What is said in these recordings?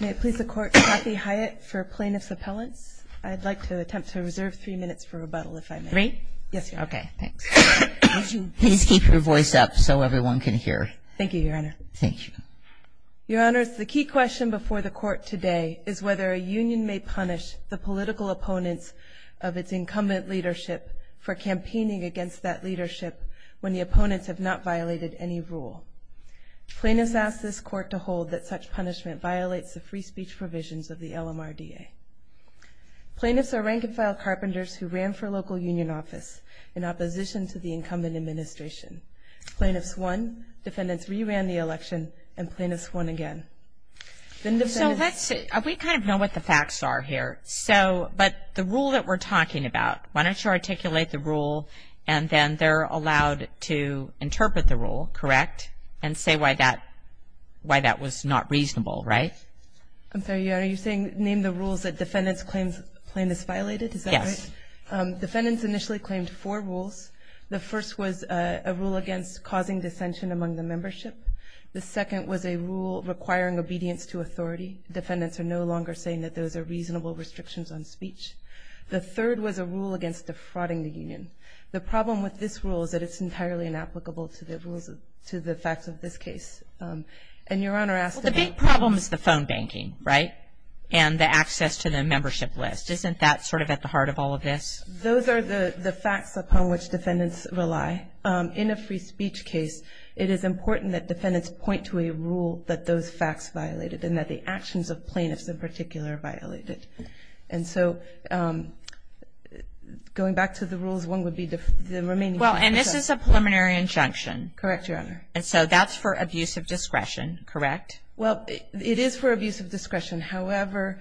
May it please the Court, Kathy Hyatt for Plaintiff's Appellants. I'd like to attempt to reserve three minutes for rebuttal if I may. Three? Yes, Your Honor. Okay, thanks. Would you please keep your voice up so everyone can hear? Thank you, Your Honor. Thank you. Your Honors, the key question before the Court today is whether a union may punish the political opponents of its incumbent leadership for campaigning against that leadership when the opponents have not violated any rule. Plaintiffs ask this Court to hold that such punishment violates the free speech provisions of the LMRDA. Plaintiffs are rank-and-file carpenters who ran for local union office in opposition to the incumbent administration. Plaintiffs won, defendants re-ran the election, and plaintiffs won again. We kind of know what the facts are here, but the rule that we're talking about, why don't you articulate the rule and then they're allowed to interpret the rule, correct, and say why that was not reasonable, right? I'm sorry, Your Honor, you're saying name the rules that defendants claim is violated? Yes. Defendants initially claimed four rules. The first was a rule against causing dissension among the membership. The second was a rule requiring obedience to authority. Defendants are no longer saying that those are reasonable restrictions on speech. The third was a rule against defrauding the union. The problem with this rule is that it's entirely inapplicable to the rules, to the facts of this case. And Your Honor asked the big problem is the phone banking, right, and the access to the membership list. Isn't that sort of at the heart of all of this? Those are the facts upon which defendants rely. In a free speech case, it is important that defendants point to a rule that those facts violated and that the actions of plaintiffs in particular violated. And so going back to the rules, one would be the remaining two. Well, and this is a preliminary injunction. Correct, Your Honor. And so that's for abuse of discretion, correct? Well, it is for abuse of discretion. However,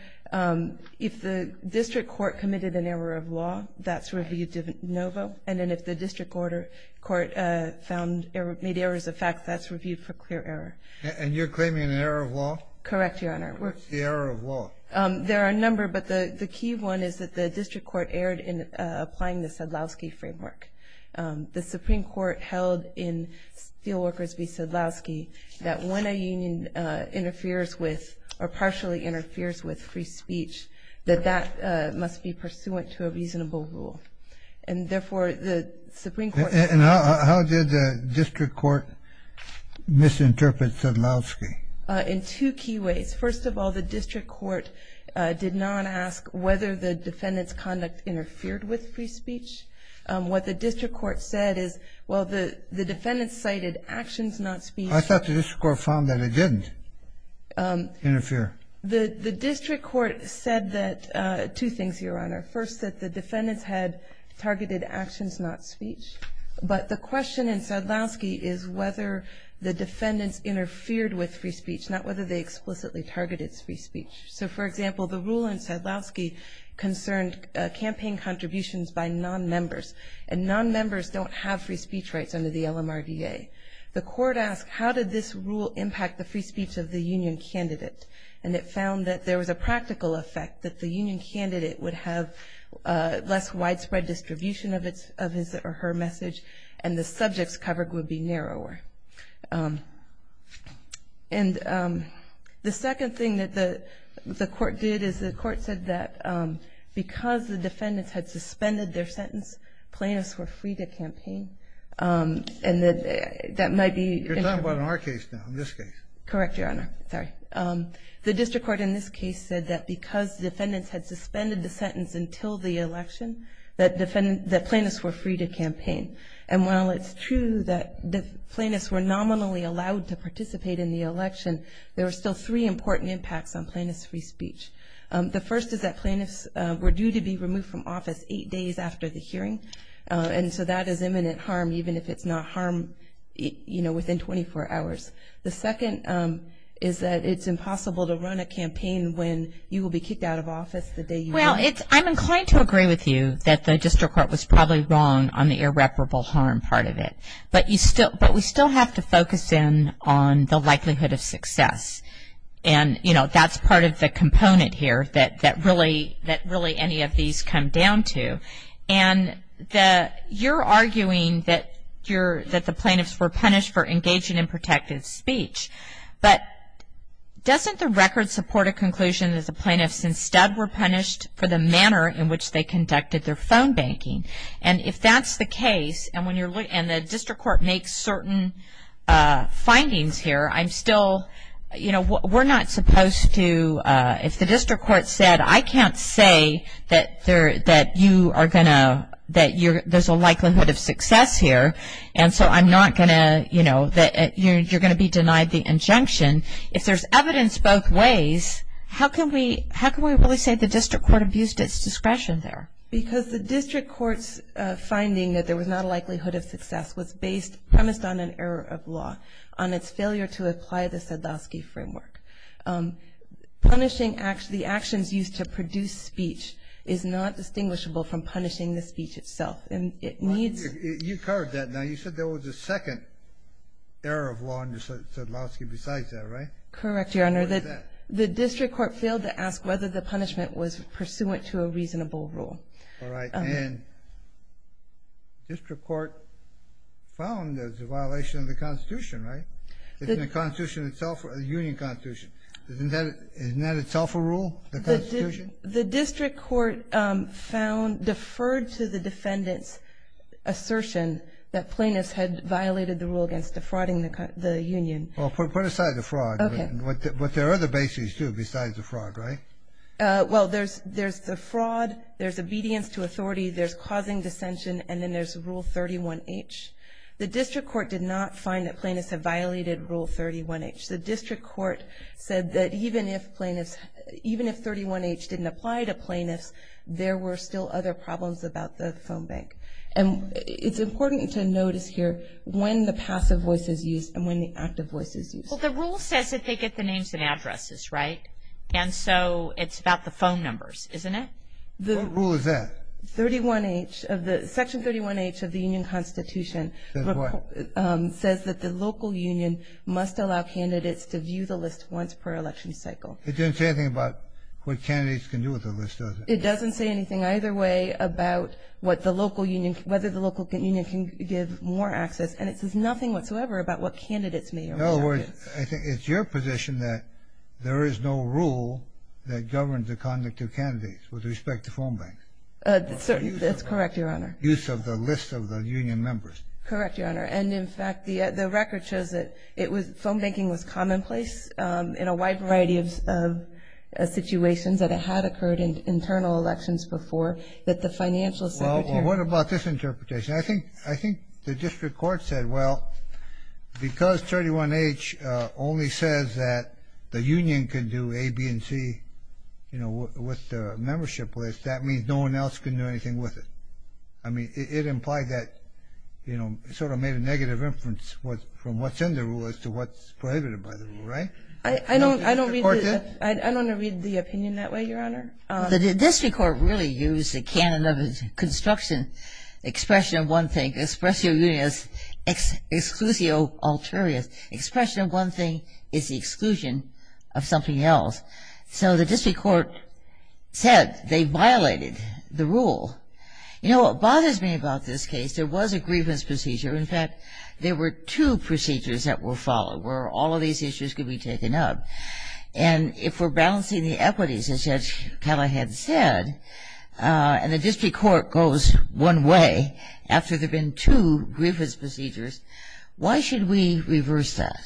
if the district court committed an error of law, that's reviewed de novo. And then if the district court found or made errors of fact, that's reviewed for clear error. And you're claiming an error of law? Correct, Your Honor. What's the error of law? There are a number, but the key one is that the district court erred in applying the Sadlowski framework. The Supreme Court held in Steelworkers v. Sadlowski that when a union interferes with or partially interferes with free speech, that that must be pursuant to a reasonable rule. And therefore, the Supreme Court... And how did the district court misinterpret Sadlowski? In two key ways. First of all, the district court did not ask whether the defendant's conduct interfered with free speech. What the district court said is, well, the defendant cited actions, not speech. I thought the district court found that it didn't interfere. The district court said that two things, Your Honor. First, that the defendants had targeted actions, not speech. But the question in Sadlowski is whether the defendants interfered with free speech, not whether they explicitly targeted free speech. So, for example, the rule in Sadlowski concerned campaign contributions by nonmembers, and nonmembers don't have free speech rights under the LMRDA. The court asked, how did this rule impact the free speech of the union candidate? And it found that there was a practical effect, that the union candidate would have less widespread distribution of his And the second thing that the court did is the court said that because the defendants had suspended their sentence, plaintiffs were free to campaign, and that might be... You're talking about in our case now, in this case. Correct, Your Honor. Sorry. The district court in this case said that because defendants had suspended the sentence until the election, that plaintiffs were free to campaign. And while it's true that the plaintiffs were nominally allowed to participate in the election, there were still three important impacts on plaintiffs' free speech. The first is that plaintiffs were due to be removed from office eight days after the hearing, and so that is imminent harm, even if it's not harm, you know, within 24 hours. The second is that it's impossible to run a campaign when you will be kicked out of office the day you win. Well, I'm inclined to agree with you that the district court was probably wrong on the irreparable harm part of it, but we still have to focus in on the likelihood of success. And, you know, that's part of the component here that really any of these come down to. And you're arguing that the plaintiffs were punished for engaging in protective speech, but doesn't the record support a conclusion that the plaintiffs instead were punished for the manner in which they conducted their phone banking? And if that's the case, and the district court makes certain findings here, I'm still, you know, we're not supposed to, if the district court said I can't say that you are going to, that there's a likelihood of success here, and so I'm not going to, you know, that you're going to be denied the injunction. If there's evidence both ways, how can we really say the district court abused its discretion there? Because the district court's finding that there was not a likelihood of success was based, premised on an error of law, on its failure to apply the Sadowsky framework. Punishing the actions used to produce speech is not distinguishable from punishing the speech itself. And it needs. You covered that. Now, you said there was a second error of law under Sadowsky besides that, right? Correct, Your Honor. What is that? The district court failed to ask whether the punishment was pursuant to a reasonable rule. All right. And district court found there's a violation of the Constitution, right? The Constitution itself, the Union Constitution. Isn't that itself a rule, the Constitution? The district court found, deferred to the defendant's assertion that plaintiffs had violated the rule against defrauding the Union. Well, put aside the fraud. Okay. But there are other bases, too, besides the fraud, right? Well, there's the fraud, there's obedience to authority, there's causing dissension, and then there's Rule 31H. The district court did not find that plaintiffs had violated Rule 31H. The district court said that even if plaintiffs, even if 31H didn't apply to plaintiffs, there were still other problems about the phone bank. And it's important to notice here when the passive voice is used and when the active voice is used. Well, the rule says that they get the names and addresses, right? And so it's about the phone numbers, isn't it? What rule is that? Section 31H of the Union Constitution says that the local union must allow candidates to view the list once per election cycle. It doesn't say anything about what candidates can do with the list, does it? It doesn't say anything either way about whether the local union can give more access, and it says nothing whatsoever about what candidates may or may not do. In other words, it's your position that there is no rule that governs the conduct of candidates with respect to phone banks? That's correct, Your Honor. Use of the list of the union members. Correct, Your Honor. And, in fact, the record shows that phone banking was commonplace in a wide variety of situations that it had occurred in internal elections before that the financial secretary Well, what about this interpretation? I think the district court said, well, because 31H only says that the union can do A, B, and C, you know, with the membership list, that means no one else can do anything with it. I mean, it implied that, you know, it sort of made a negative inference from what's in the rule as to what's prohibited by the rule, right? I don't want to read the opinion that way, Your Honor. The district court really used the canon of construction, expression of one thing, expressio unius, exclusio ulterior. Expression of one thing is the exclusion of something else. So the district court said they violated the rule. You know what bothers me about this case? There was a grievance procedure. In fact, there were two procedures that were followed where all of these issues could be taken up. And if we're balancing the equities, as Judge Callahan said, and the district court goes one way after there have been two grievance procedures, why should we reverse that?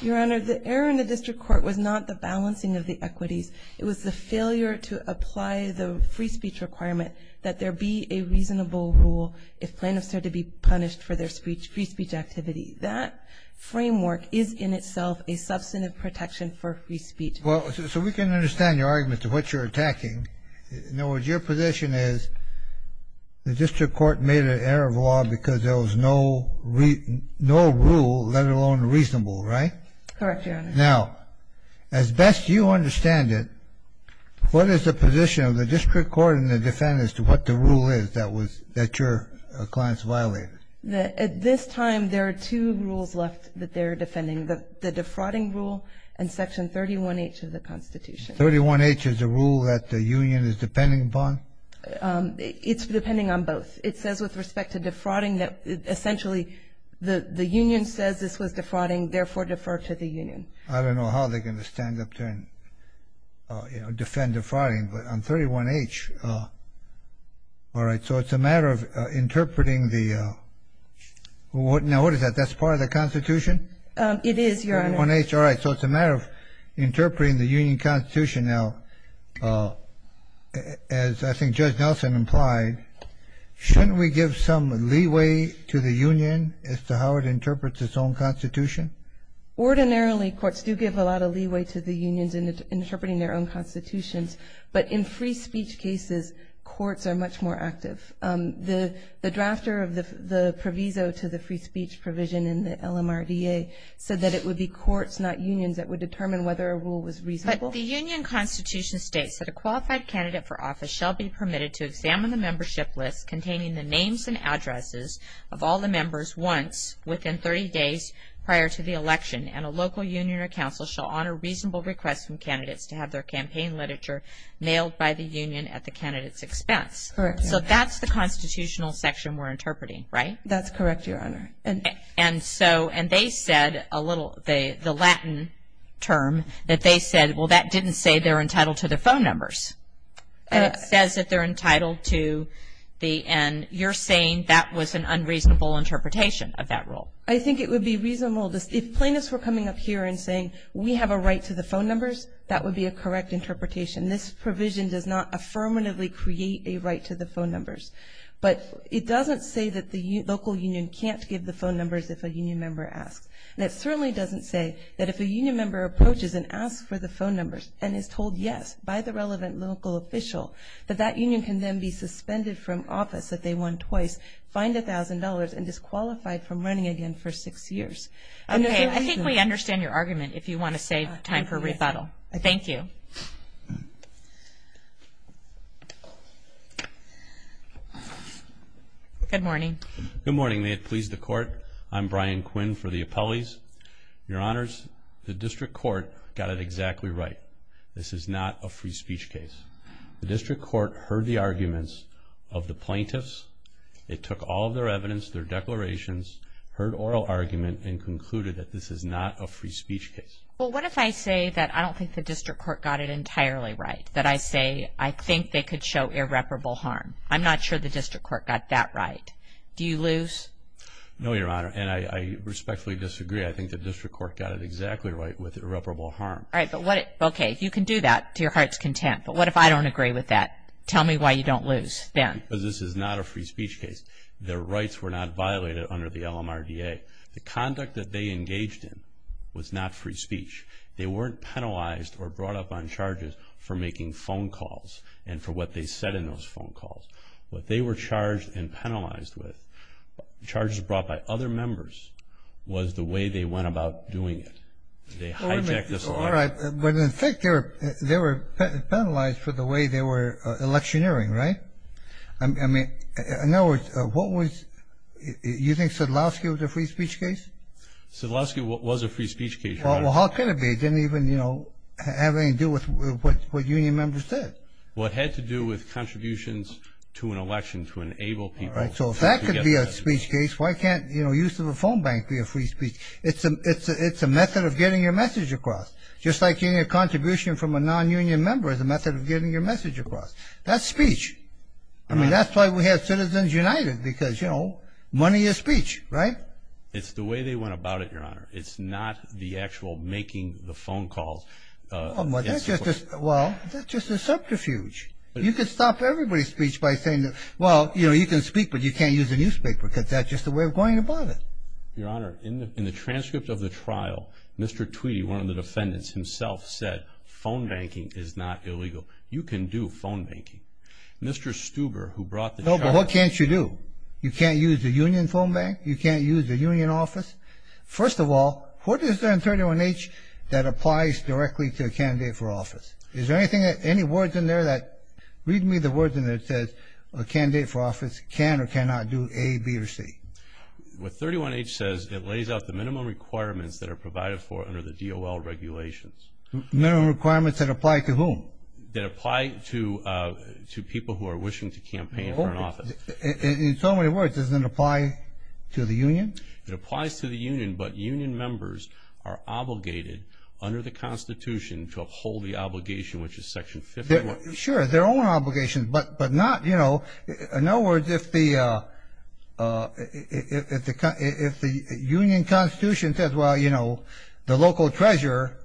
Your Honor, the error in the district court was not the balancing of the equities. It was the failure to apply the free speech requirement that there be a reasonable rule if plaintiffs are to be punished for their free speech activity. That framework is in itself a substantive protection for free speech. Well, so we can understand your argument to what you're attacking. In other words, your position is the district court made an error of law because there was no rule, let alone reasonable, right? Correct, Your Honor. Now, as best you understand it, what is the position of the district court and the defendants as to what the rule is that your clients violated? At this time, there are two rules left that they're defending, the defrauding rule and Section 31H of the Constitution. 31H is a rule that the union is depending upon? It's depending on both. It says with respect to defrauding that essentially the union says this was defrauding, therefore defer to the union. I don't know how they're going to stand up there and defend defrauding. But on 31H, all right, so it's a matter of interpreting the – now, what is that? That's part of the Constitution? It is, Your Honor. 31H, all right, so it's a matter of interpreting the union constitution. Now, as I think Judge Nelson implied, shouldn't we give some leeway to the union as to how it interprets its own constitution? Ordinarily, courts do give a lot of leeway to the unions in interpreting their own constitutions, but in free speech cases, courts are much more active. The drafter of the proviso to the free speech provision in the LMRDA said that it would be courts, not unions, that would determine whether a rule was reasonable. The union constitution states that a qualified candidate for office shall be permitted to examine the membership list containing the names and addresses of all the members once within 30 days prior to the election, and a local union or council shall honor reasonable requests from candidates to have their campaign literature mailed by the union at the candidate's expense. Correct, Your Honor. So that's the constitutional section we're interpreting, right? That's correct, Your Honor. And they said a little, the Latin term, that they said, well, that didn't say they're entitled to the phone numbers. And it says that they're entitled to the, and you're saying that was an unreasonable interpretation of that rule. I think it would be reasonable. If plaintiffs were coming up here and saying we have a right to the phone numbers, that would be a correct interpretation. This provision does not affirmatively create a right to the phone numbers. But it doesn't say that the local union can't give the phone numbers if a union member asks. And it certainly doesn't say that if a union member approaches and asks for the phone numbers and is told yes by the relevant local official, that that union can then be suspended from office if they won twice, fined $1,000, and disqualified from running again for six years. Okay. I think we understand your argument if you want to save time for rebuttal. Thank you. Good morning. Good morning. May it please the Court. I'm Brian Quinn for the appellees. Your Honors, the district court got it exactly right. This is not a free speech case. The district court heard the arguments of the plaintiffs. It took all of their evidence, their declarations, heard oral argument, and concluded that this is not a free speech case. Well, what if I say that I don't think the district court got it entirely right, that I say I think they could show irreparable harm. I'm not sure the district court got that right. Do you lose? No, Your Honor, and I respectfully disagree. I think the district court got it exactly right with irreparable harm. Okay. You can do that to your heart's content. But what if I don't agree with that? Tell me why you don't lose then. Because this is not a free speech case. Their rights were not violated under the LMRDA. The conduct that they engaged in was not free speech. They weren't penalized or brought up on charges for making phone calls and for what they said in those phone calls. What they were charged and penalized with, charges brought by other members, was the way they went about doing it. They hijacked this law. All right. But, in fact, they were penalized for the way they were electioneering, right? I mean, in other words, what was – you think Sadlowski was a free speech case? Sadlowski was a free speech case, Your Honor. Well, how could it be? It didn't even have anything to do with what union members said. Well, it had to do with contributions to an election to enable people. All right, so if that could be a speech case, why can't use of a phone bank be a free speech? It's a method of getting your message across. Just like getting a contribution from a non-union member is a method of getting your message across. That's speech. I mean, that's why we have Citizens United because, you know, money is speech, right? It's the way they went about it, Your Honor. It's not the actual making the phone calls. Well, that's just a subterfuge. You could stop everybody's speech by saying, well, you know, you can speak, but you can't use a newspaper because that's just the way we're going about it. Your Honor, in the transcript of the trial, Mr. Tweedy, one of the defendants himself, said phone banking is not illegal. You can do phone banking. Mr. Stuber, who brought the – No, but what can't you do? You can't use a union phone bank. You can't use a union office. First of all, what is there in 31H that applies directly to a candidate for office? Is there anything, any words in there that – read me the words in there that says a candidate for office can or cannot do A, B, or C. What 31H says, it lays out the minimum requirements that are provided for under the DOL regulations. Minimum requirements that apply to whom? That apply to people who are wishing to campaign for an office. In so many words, does it apply to the union? It applies to the union, but union members are obligated under the Constitution to uphold the obligation, which is Section 51. Sure, their own obligation, but not – in other words, if the union Constitution says, well, you know, the local treasurer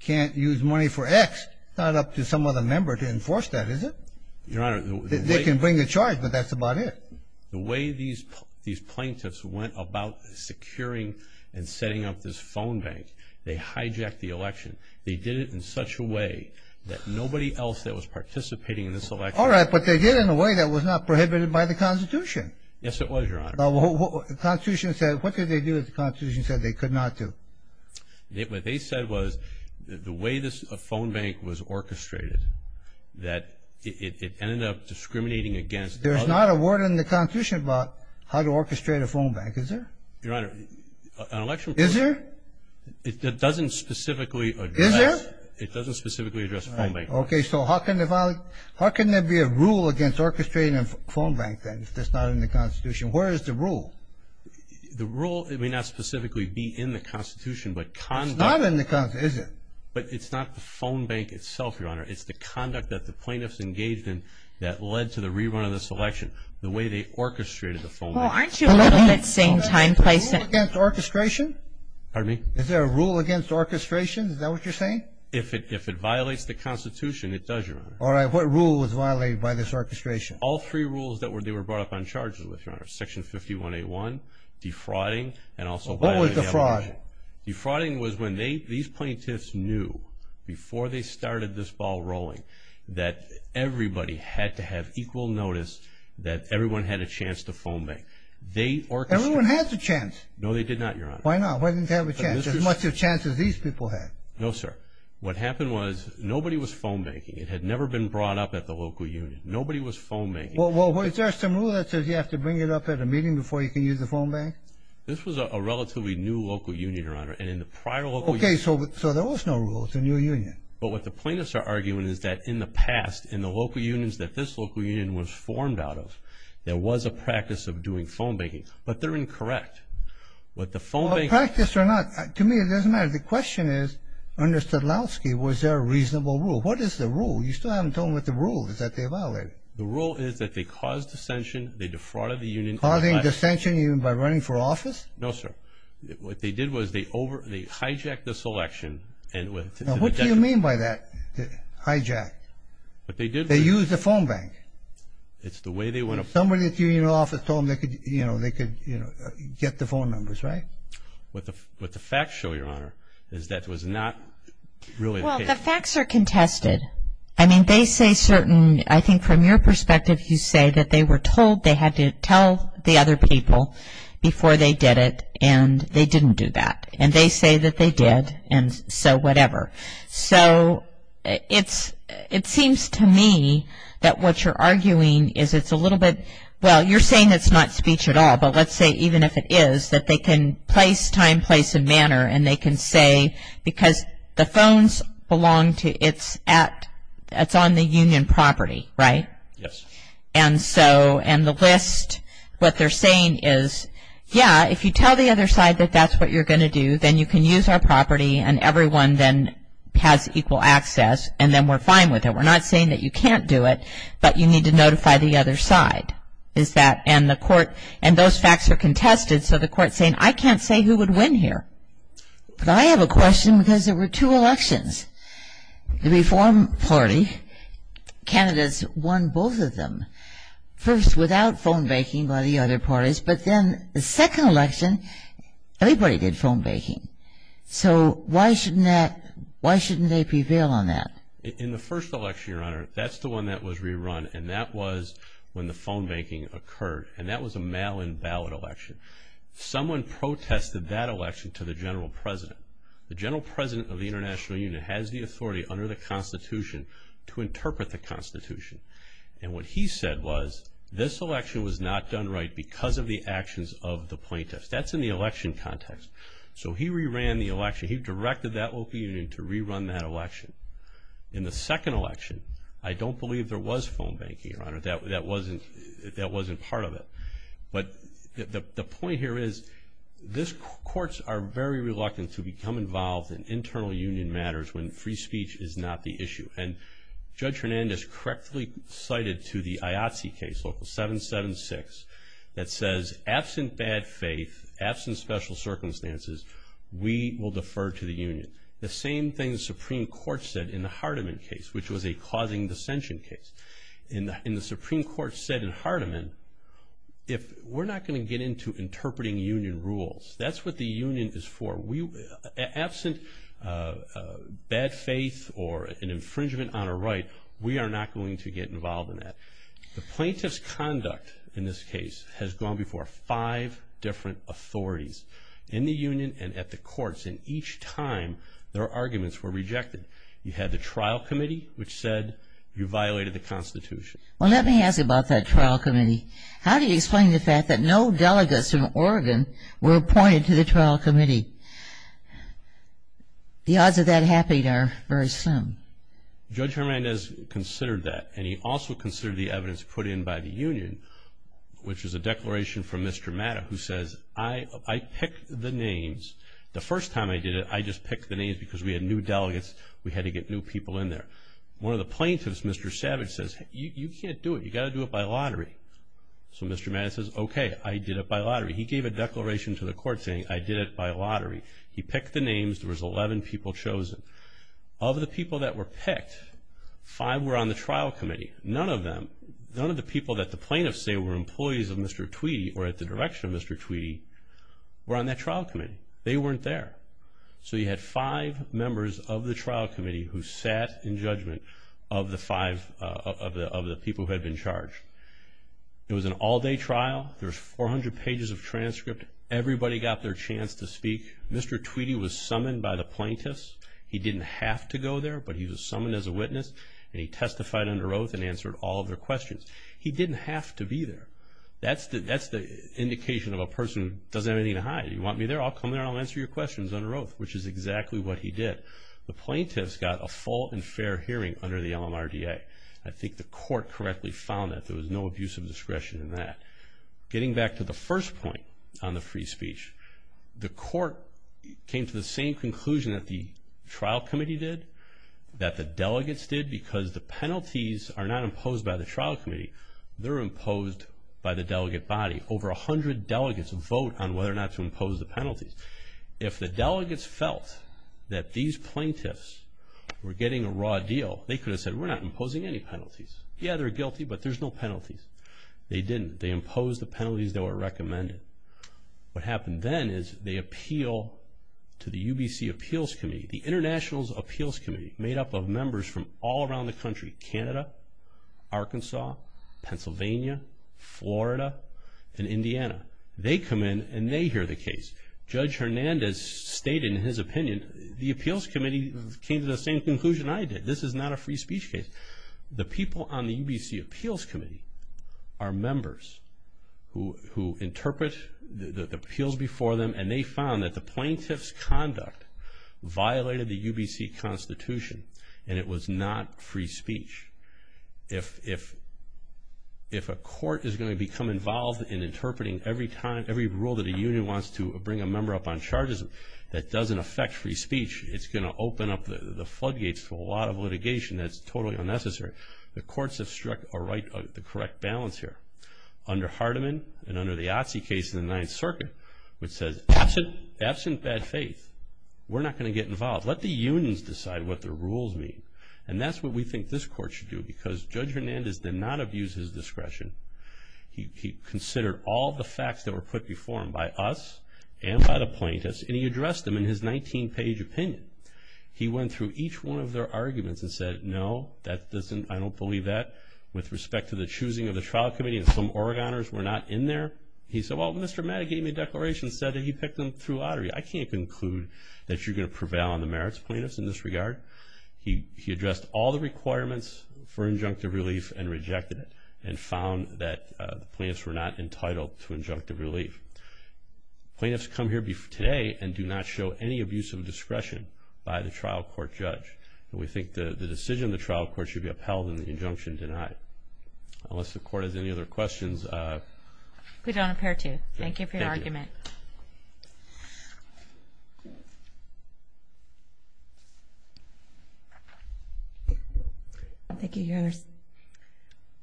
can't use money for X, it's not up to some other member to enforce that, is it? Your Honor, the way – They can bring a charge, but that's about it. The way these plaintiffs went about securing and setting up this phone bank, they hijacked the election. They did it in such a way that nobody else that was participating in this election – All right, but they did it in a way that was not prohibited by the Constitution. Yes, it was, Your Honor. The Constitution said – what did they do that the Constitution said they could not do? What they said was the way this phone bank was orchestrated, that it ended up discriminating against – There's not a word in the Constitution about how to orchestrate a phone bank, is there? Your Honor, an election – Is there? It doesn't specifically address – Is there? It doesn't specifically address a phone bank. Okay, so how can there be a rule against orchestrating a phone bank then if that's not in the Constitution? Where is the rule? The rule may not specifically be in the Constitution, but conduct – But it's not the phone bank itself, Your Honor. It's the conduct that the plaintiffs engaged in that led to the rerun of this election, the way they orchestrated the phone bank. Well, aren't you a little at the same time placing – Is there a rule against orchestration? Pardon me? Is there a rule against orchestration? Is that what you're saying? If it violates the Constitution, it does, Your Honor. All right, what rule was violated by this orchestration? All three rules that they were brought up on charges with, Your Honor – Section 51A1, defrauding, and also – What was the fraud? No. Defrauding was when these plaintiffs knew, before they started this ball rolling, that everybody had to have equal notice that everyone had a chance to phone bank. They orchestrated – Everyone has a chance. No, they did not, Your Honor. Why not? Why didn't they have a chance? As much of a chance as these people had. No, sir. What happened was, nobody was phone banking. It had never been brought up at the local union. Nobody was phone banking. Well, is there some rule that says you have to bring it up at a meeting before you can use the phone bank? This was a relatively new local union, Your Honor. And in the prior local – Okay, so there was no rule. It's a new union. But what the plaintiffs are arguing is that in the past, in the local unions that this local union was formed out of, there was a practice of doing phone banking. But they're incorrect. What the phone bank – A practice or not, to me it doesn't matter. The question is, under Stutlowski, was there a reasonable rule? What is the rule? You still haven't told me what the rule is that they violated. The rule is that they caused dissension, they defrauded the union – Over office? No, sir. What they did was they hijacked the selection and – Now, what do you mean by that, hijacked? What they did was – They used the phone bank. It's the way they went – Somebody at the union office told them they could get the phone numbers, right? What the facts show, Your Honor, is that was not really the case. Well, the facts are contested. I mean, they say certain – I think from your perspective, you say that they were told they had to tell the other people before they did it, and they didn't do that. And they say that they did, and so whatever. So it seems to me that what you're arguing is it's a little bit – well, you're saying it's not speech at all, but let's say even if it is, that they can place time, place, and manner, and they can say because the phones belong to – it's on the union property, right? Yes. And so – and the list, what they're saying is, yeah, if you tell the other side that that's what you're going to do, then you can use our property, and everyone then has equal access, and then we're fine with it. We're not saying that you can't do it, but you need to notify the other side. Is that – and the court – and those facts are contested, so the court's saying I can't say who would win here. But I have a question because there were two elections. The Reform Party candidates won both of them, first without phone banking by the other parties, but then the second election everybody did phone banking. So why shouldn't that – why shouldn't they prevail on that? In the first election, Your Honor, that's the one that was rerun, and that was when the phone banking occurred, and that was a mail-in ballot election. Someone protested that election to the general president. The general president of the International Union has the authority under the Constitution to interpret the Constitution, and what he said was this election was not done right because of the actions of the plaintiffs. That's in the election context. So he reran the election. He directed that local union to rerun that election. In the second election, I don't believe there was phone banking, Your Honor. That wasn't part of it. But the point here is this – courts are very reluctant to become involved in internal union matters when free speech is not the issue. And Judge Hernandez correctly cited to the IATSE case, Local 776, that says absent bad faith, absent special circumstances, we will defer to the union. The same thing the Supreme Court said in the Hardiman case, which was a causing dissension case. And the Supreme Court said in Hardiman, we're not going to get into interpreting union rules. That's what the union is for. Absent bad faith or an infringement on a right, we are not going to get involved in that. The plaintiff's conduct in this case has gone before five different authorities in the union and at the courts, and each time their arguments were rejected. You had the trial committee, which said you violated the Constitution. Well, let me ask you about that trial committee. How do you explain the fact that no delegates from Oregon were appointed to the trial committee? The odds of that happening are very slim. Judge Hernandez considered that, and he also considered the evidence put in by the union, which is a declaration from Mr. Matta, who says, I picked the names. We had to get new people in there. One of the plaintiffs, Mr. Savage, says, you can't do it. You've got to do it by lottery. So Mr. Matta says, okay, I did it by lottery. He gave a declaration to the court saying, I did it by lottery. He picked the names. There was 11 people chosen. Of the people that were picked, five were on the trial committee. None of them, none of the people that the plaintiffs say were employees of Mr. Tweedy or at the direction of Mr. Tweedy were on that trial committee. They weren't there. So you had five members of the trial committee who sat in judgment of the five of the people who had been charged. It was an all-day trial. There was 400 pages of transcript. Everybody got their chance to speak. Mr. Tweedy was summoned by the plaintiffs. He didn't have to go there, but he was summoned as a witness, and he testified under oath and answered all of their questions. He didn't have to be there. That's the indication of a person who doesn't have anything to hide. You want me there? I'll come there and I'll answer your questions under oath, which is exactly what he did. The plaintiffs got a full and fair hearing under the LMRDA. I think the court correctly found that. There was no abuse of discretion in that. Getting back to the first point on the free speech, the court came to the same conclusion that the trial committee did, that the delegates did, because the penalties are not imposed by the trial committee, they're imposed by the delegate body. Over 100 delegates vote on whether or not to impose the penalties. If the delegates felt that these plaintiffs were getting a raw deal, they could have said, we're not imposing any penalties. Yeah, they're guilty, but there's no penalties. They didn't. They imposed the penalties that were recommended. What happened then is they appeal to the UBC Appeals Committee, the International Appeals Committee made up of members from all around the They come in and they hear the case. Judge Hernandez stated in his opinion, the appeals committee came to the same conclusion I did. This is not a free speech case. The people on the UBC Appeals Committee are members who interpret the appeals before them and they found that the plaintiff's conduct violated the UBC Constitution and it was not free speech. If a court is going to become involved in interpreting every rule that a union wants to bring a member up on charges that doesn't affect free speech, it's going to open up the floodgates to a lot of litigation. That's totally unnecessary. The courts have struck the correct balance here. Under Hardiman and under the Otzi case in the Ninth Circuit, which says, absent bad faith, we're not going to get involved. Let the unions decide what the rules mean. That's what we think this court should do because Judge Hernandez did not abuse his discretion. He considered all the facts that were put before him by us and by the plaintiffs and he addressed them in his 19-page opinion. He went through each one of their arguments and said, no, I don't believe that with respect to the choosing of the trial committee and some Oregoners were not in there. He said, well, Mr. Mattak gave me a declaration and said that he picked them through lottery. I can't conclude that you're going to prevail on the merits plaintiffs in this regard. He addressed all the requirements for injunctive relief and rejected it and found that the plaintiffs were not entitled to injunctive relief. Plaintiffs come here today and do not show any abuse of discretion by the trial court judge. We think the decision of the trial court should be upheld and the injunction denied. Unless the court has any other questions. We don't appear to. Thank you for your argument. Thank you. Thank you, Your Honors.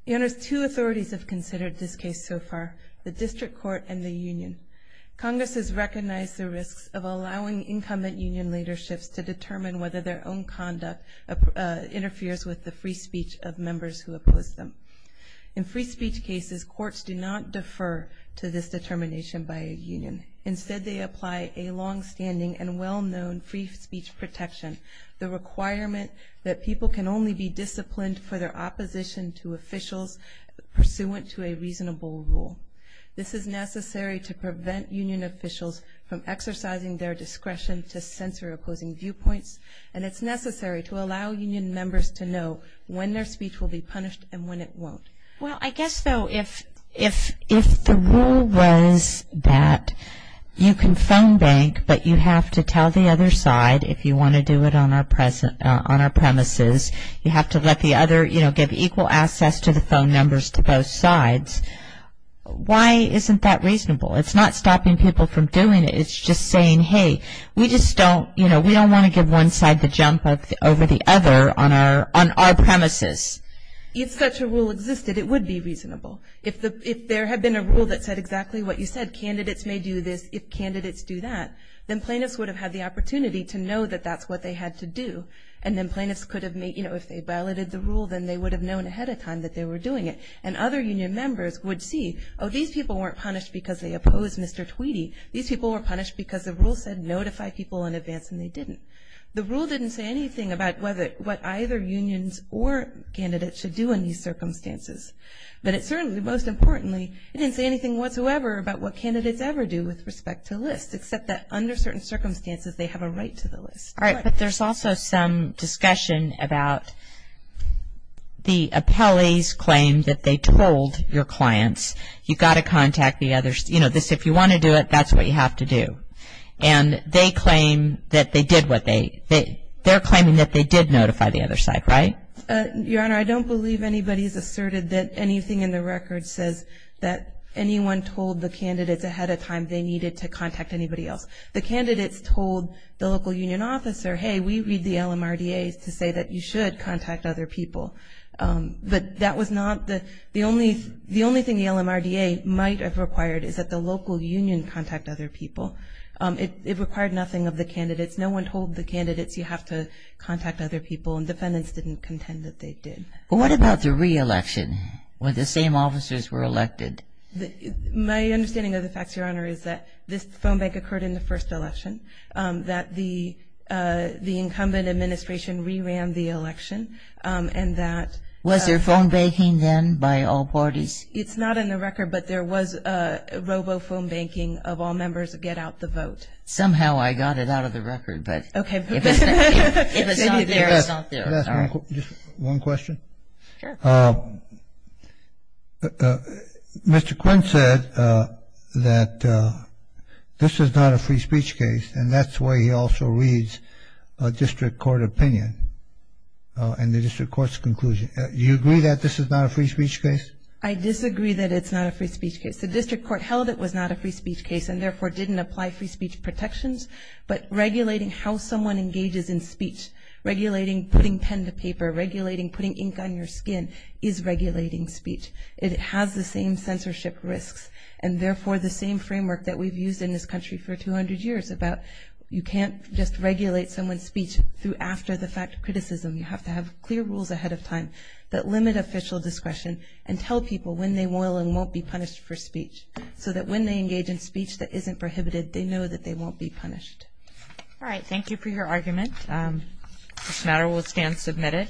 Your Honors, two authorities have considered this case so far, the district court and the union. Congress has recognized the risks of allowing incumbent union leaderships to determine whether their own conduct interferes with the free speech of members who oppose them. In free speech cases, courts do not defer to this determination by a union. Instead, they apply a longstanding and well-known free speech protection, the requirement that people can only be disciplined for their opposition to officials pursuant to a reasonable rule. This is necessary to prevent union officials from exercising their discretion to censor opposing viewpoints, and it's necessary to allow union members to know when their speech will be punished and when it won't. Well, I guess, though, if the rule was that you can phone bank, but you have to tell the other side if you want to do it on our premises, you have to let the other, you know, give equal access to the phone numbers to both sides, why isn't that reasonable? It's not stopping people from doing it. It's just saying, hey, we just don't, you know, we don't want to give one side the jump over the other on our premises. If such a rule existed, it would be reasonable. If there had been a rule that said exactly what you said, candidates may do this if candidates do that, then plaintiffs would have had the opportunity to know that that's what they had to do, and then plaintiffs could have made, you know, if they violated the rule, then they would have known ahead of time that they were doing it, and other union members would see, oh, these people weren't punished because they opposed Mr. Tweedy. These people were punished because the rule said notify people in advance, and they didn't. The rule didn't say anything about what either unions or candidates should do in these circumstances. But it certainly, most importantly, it didn't say anything whatsoever about what candidates ever do with respect to lists, except that under certain circumstances they have a right to the list. All right. But there's also some discussion about the appellee's claim that they told your clients, you've got to contact the other, you know, this, if you want to do it, that's what you have to do. And they claim that they did what they, they're claiming that they did notify the other side, right? Your Honor, I don't believe anybody has asserted that anything in the record says that anyone told the candidates ahead of time they needed to contact anybody else. The candidates told the local union officer, hey, we read the LMRDA to say that you should contact other people. But that was not the, the only, the only thing the LMRDA might have required is that the local union contact other people. It required nothing of the candidates. No one told the candidates you have to contact other people, and defendants didn't contend that they did. What about the re-election when the same officers were elected? My understanding of the facts, Your Honor, is that this phone bank occurred in the first election, that the incumbent administration re-ran the election, and that Was there phone banking then by all parties? It's not in the record, but there was robo-phone banking of all members get out the vote. Somehow I got it out of the record, but Okay. If it's not there, it's not there. Just one question. Sure. Mr. Quinn said that this is not a free speech case, and that's why he also reads a district court opinion in the district court's conclusion. Do you agree that this is not a free speech case? I disagree that it's not a free speech case. The district court held it was not a free speech case, and therefore didn't apply free speech protections, but regulating how someone engages in speech, regulating putting pen to paper, regulating putting ink on your skin is regulating speech. It has the same censorship risks, and therefore the same framework that we've used in this country for 200 years about you can't just regulate someone's speech through after the fact criticism. You have to have clear rules ahead of time that limit official discretion and tell people when they will and won't be punished for speech, so that when they engage in speech that isn't prohibited, they know that they won't be punished. All right. Thank you for your argument. This matter will stand submitted.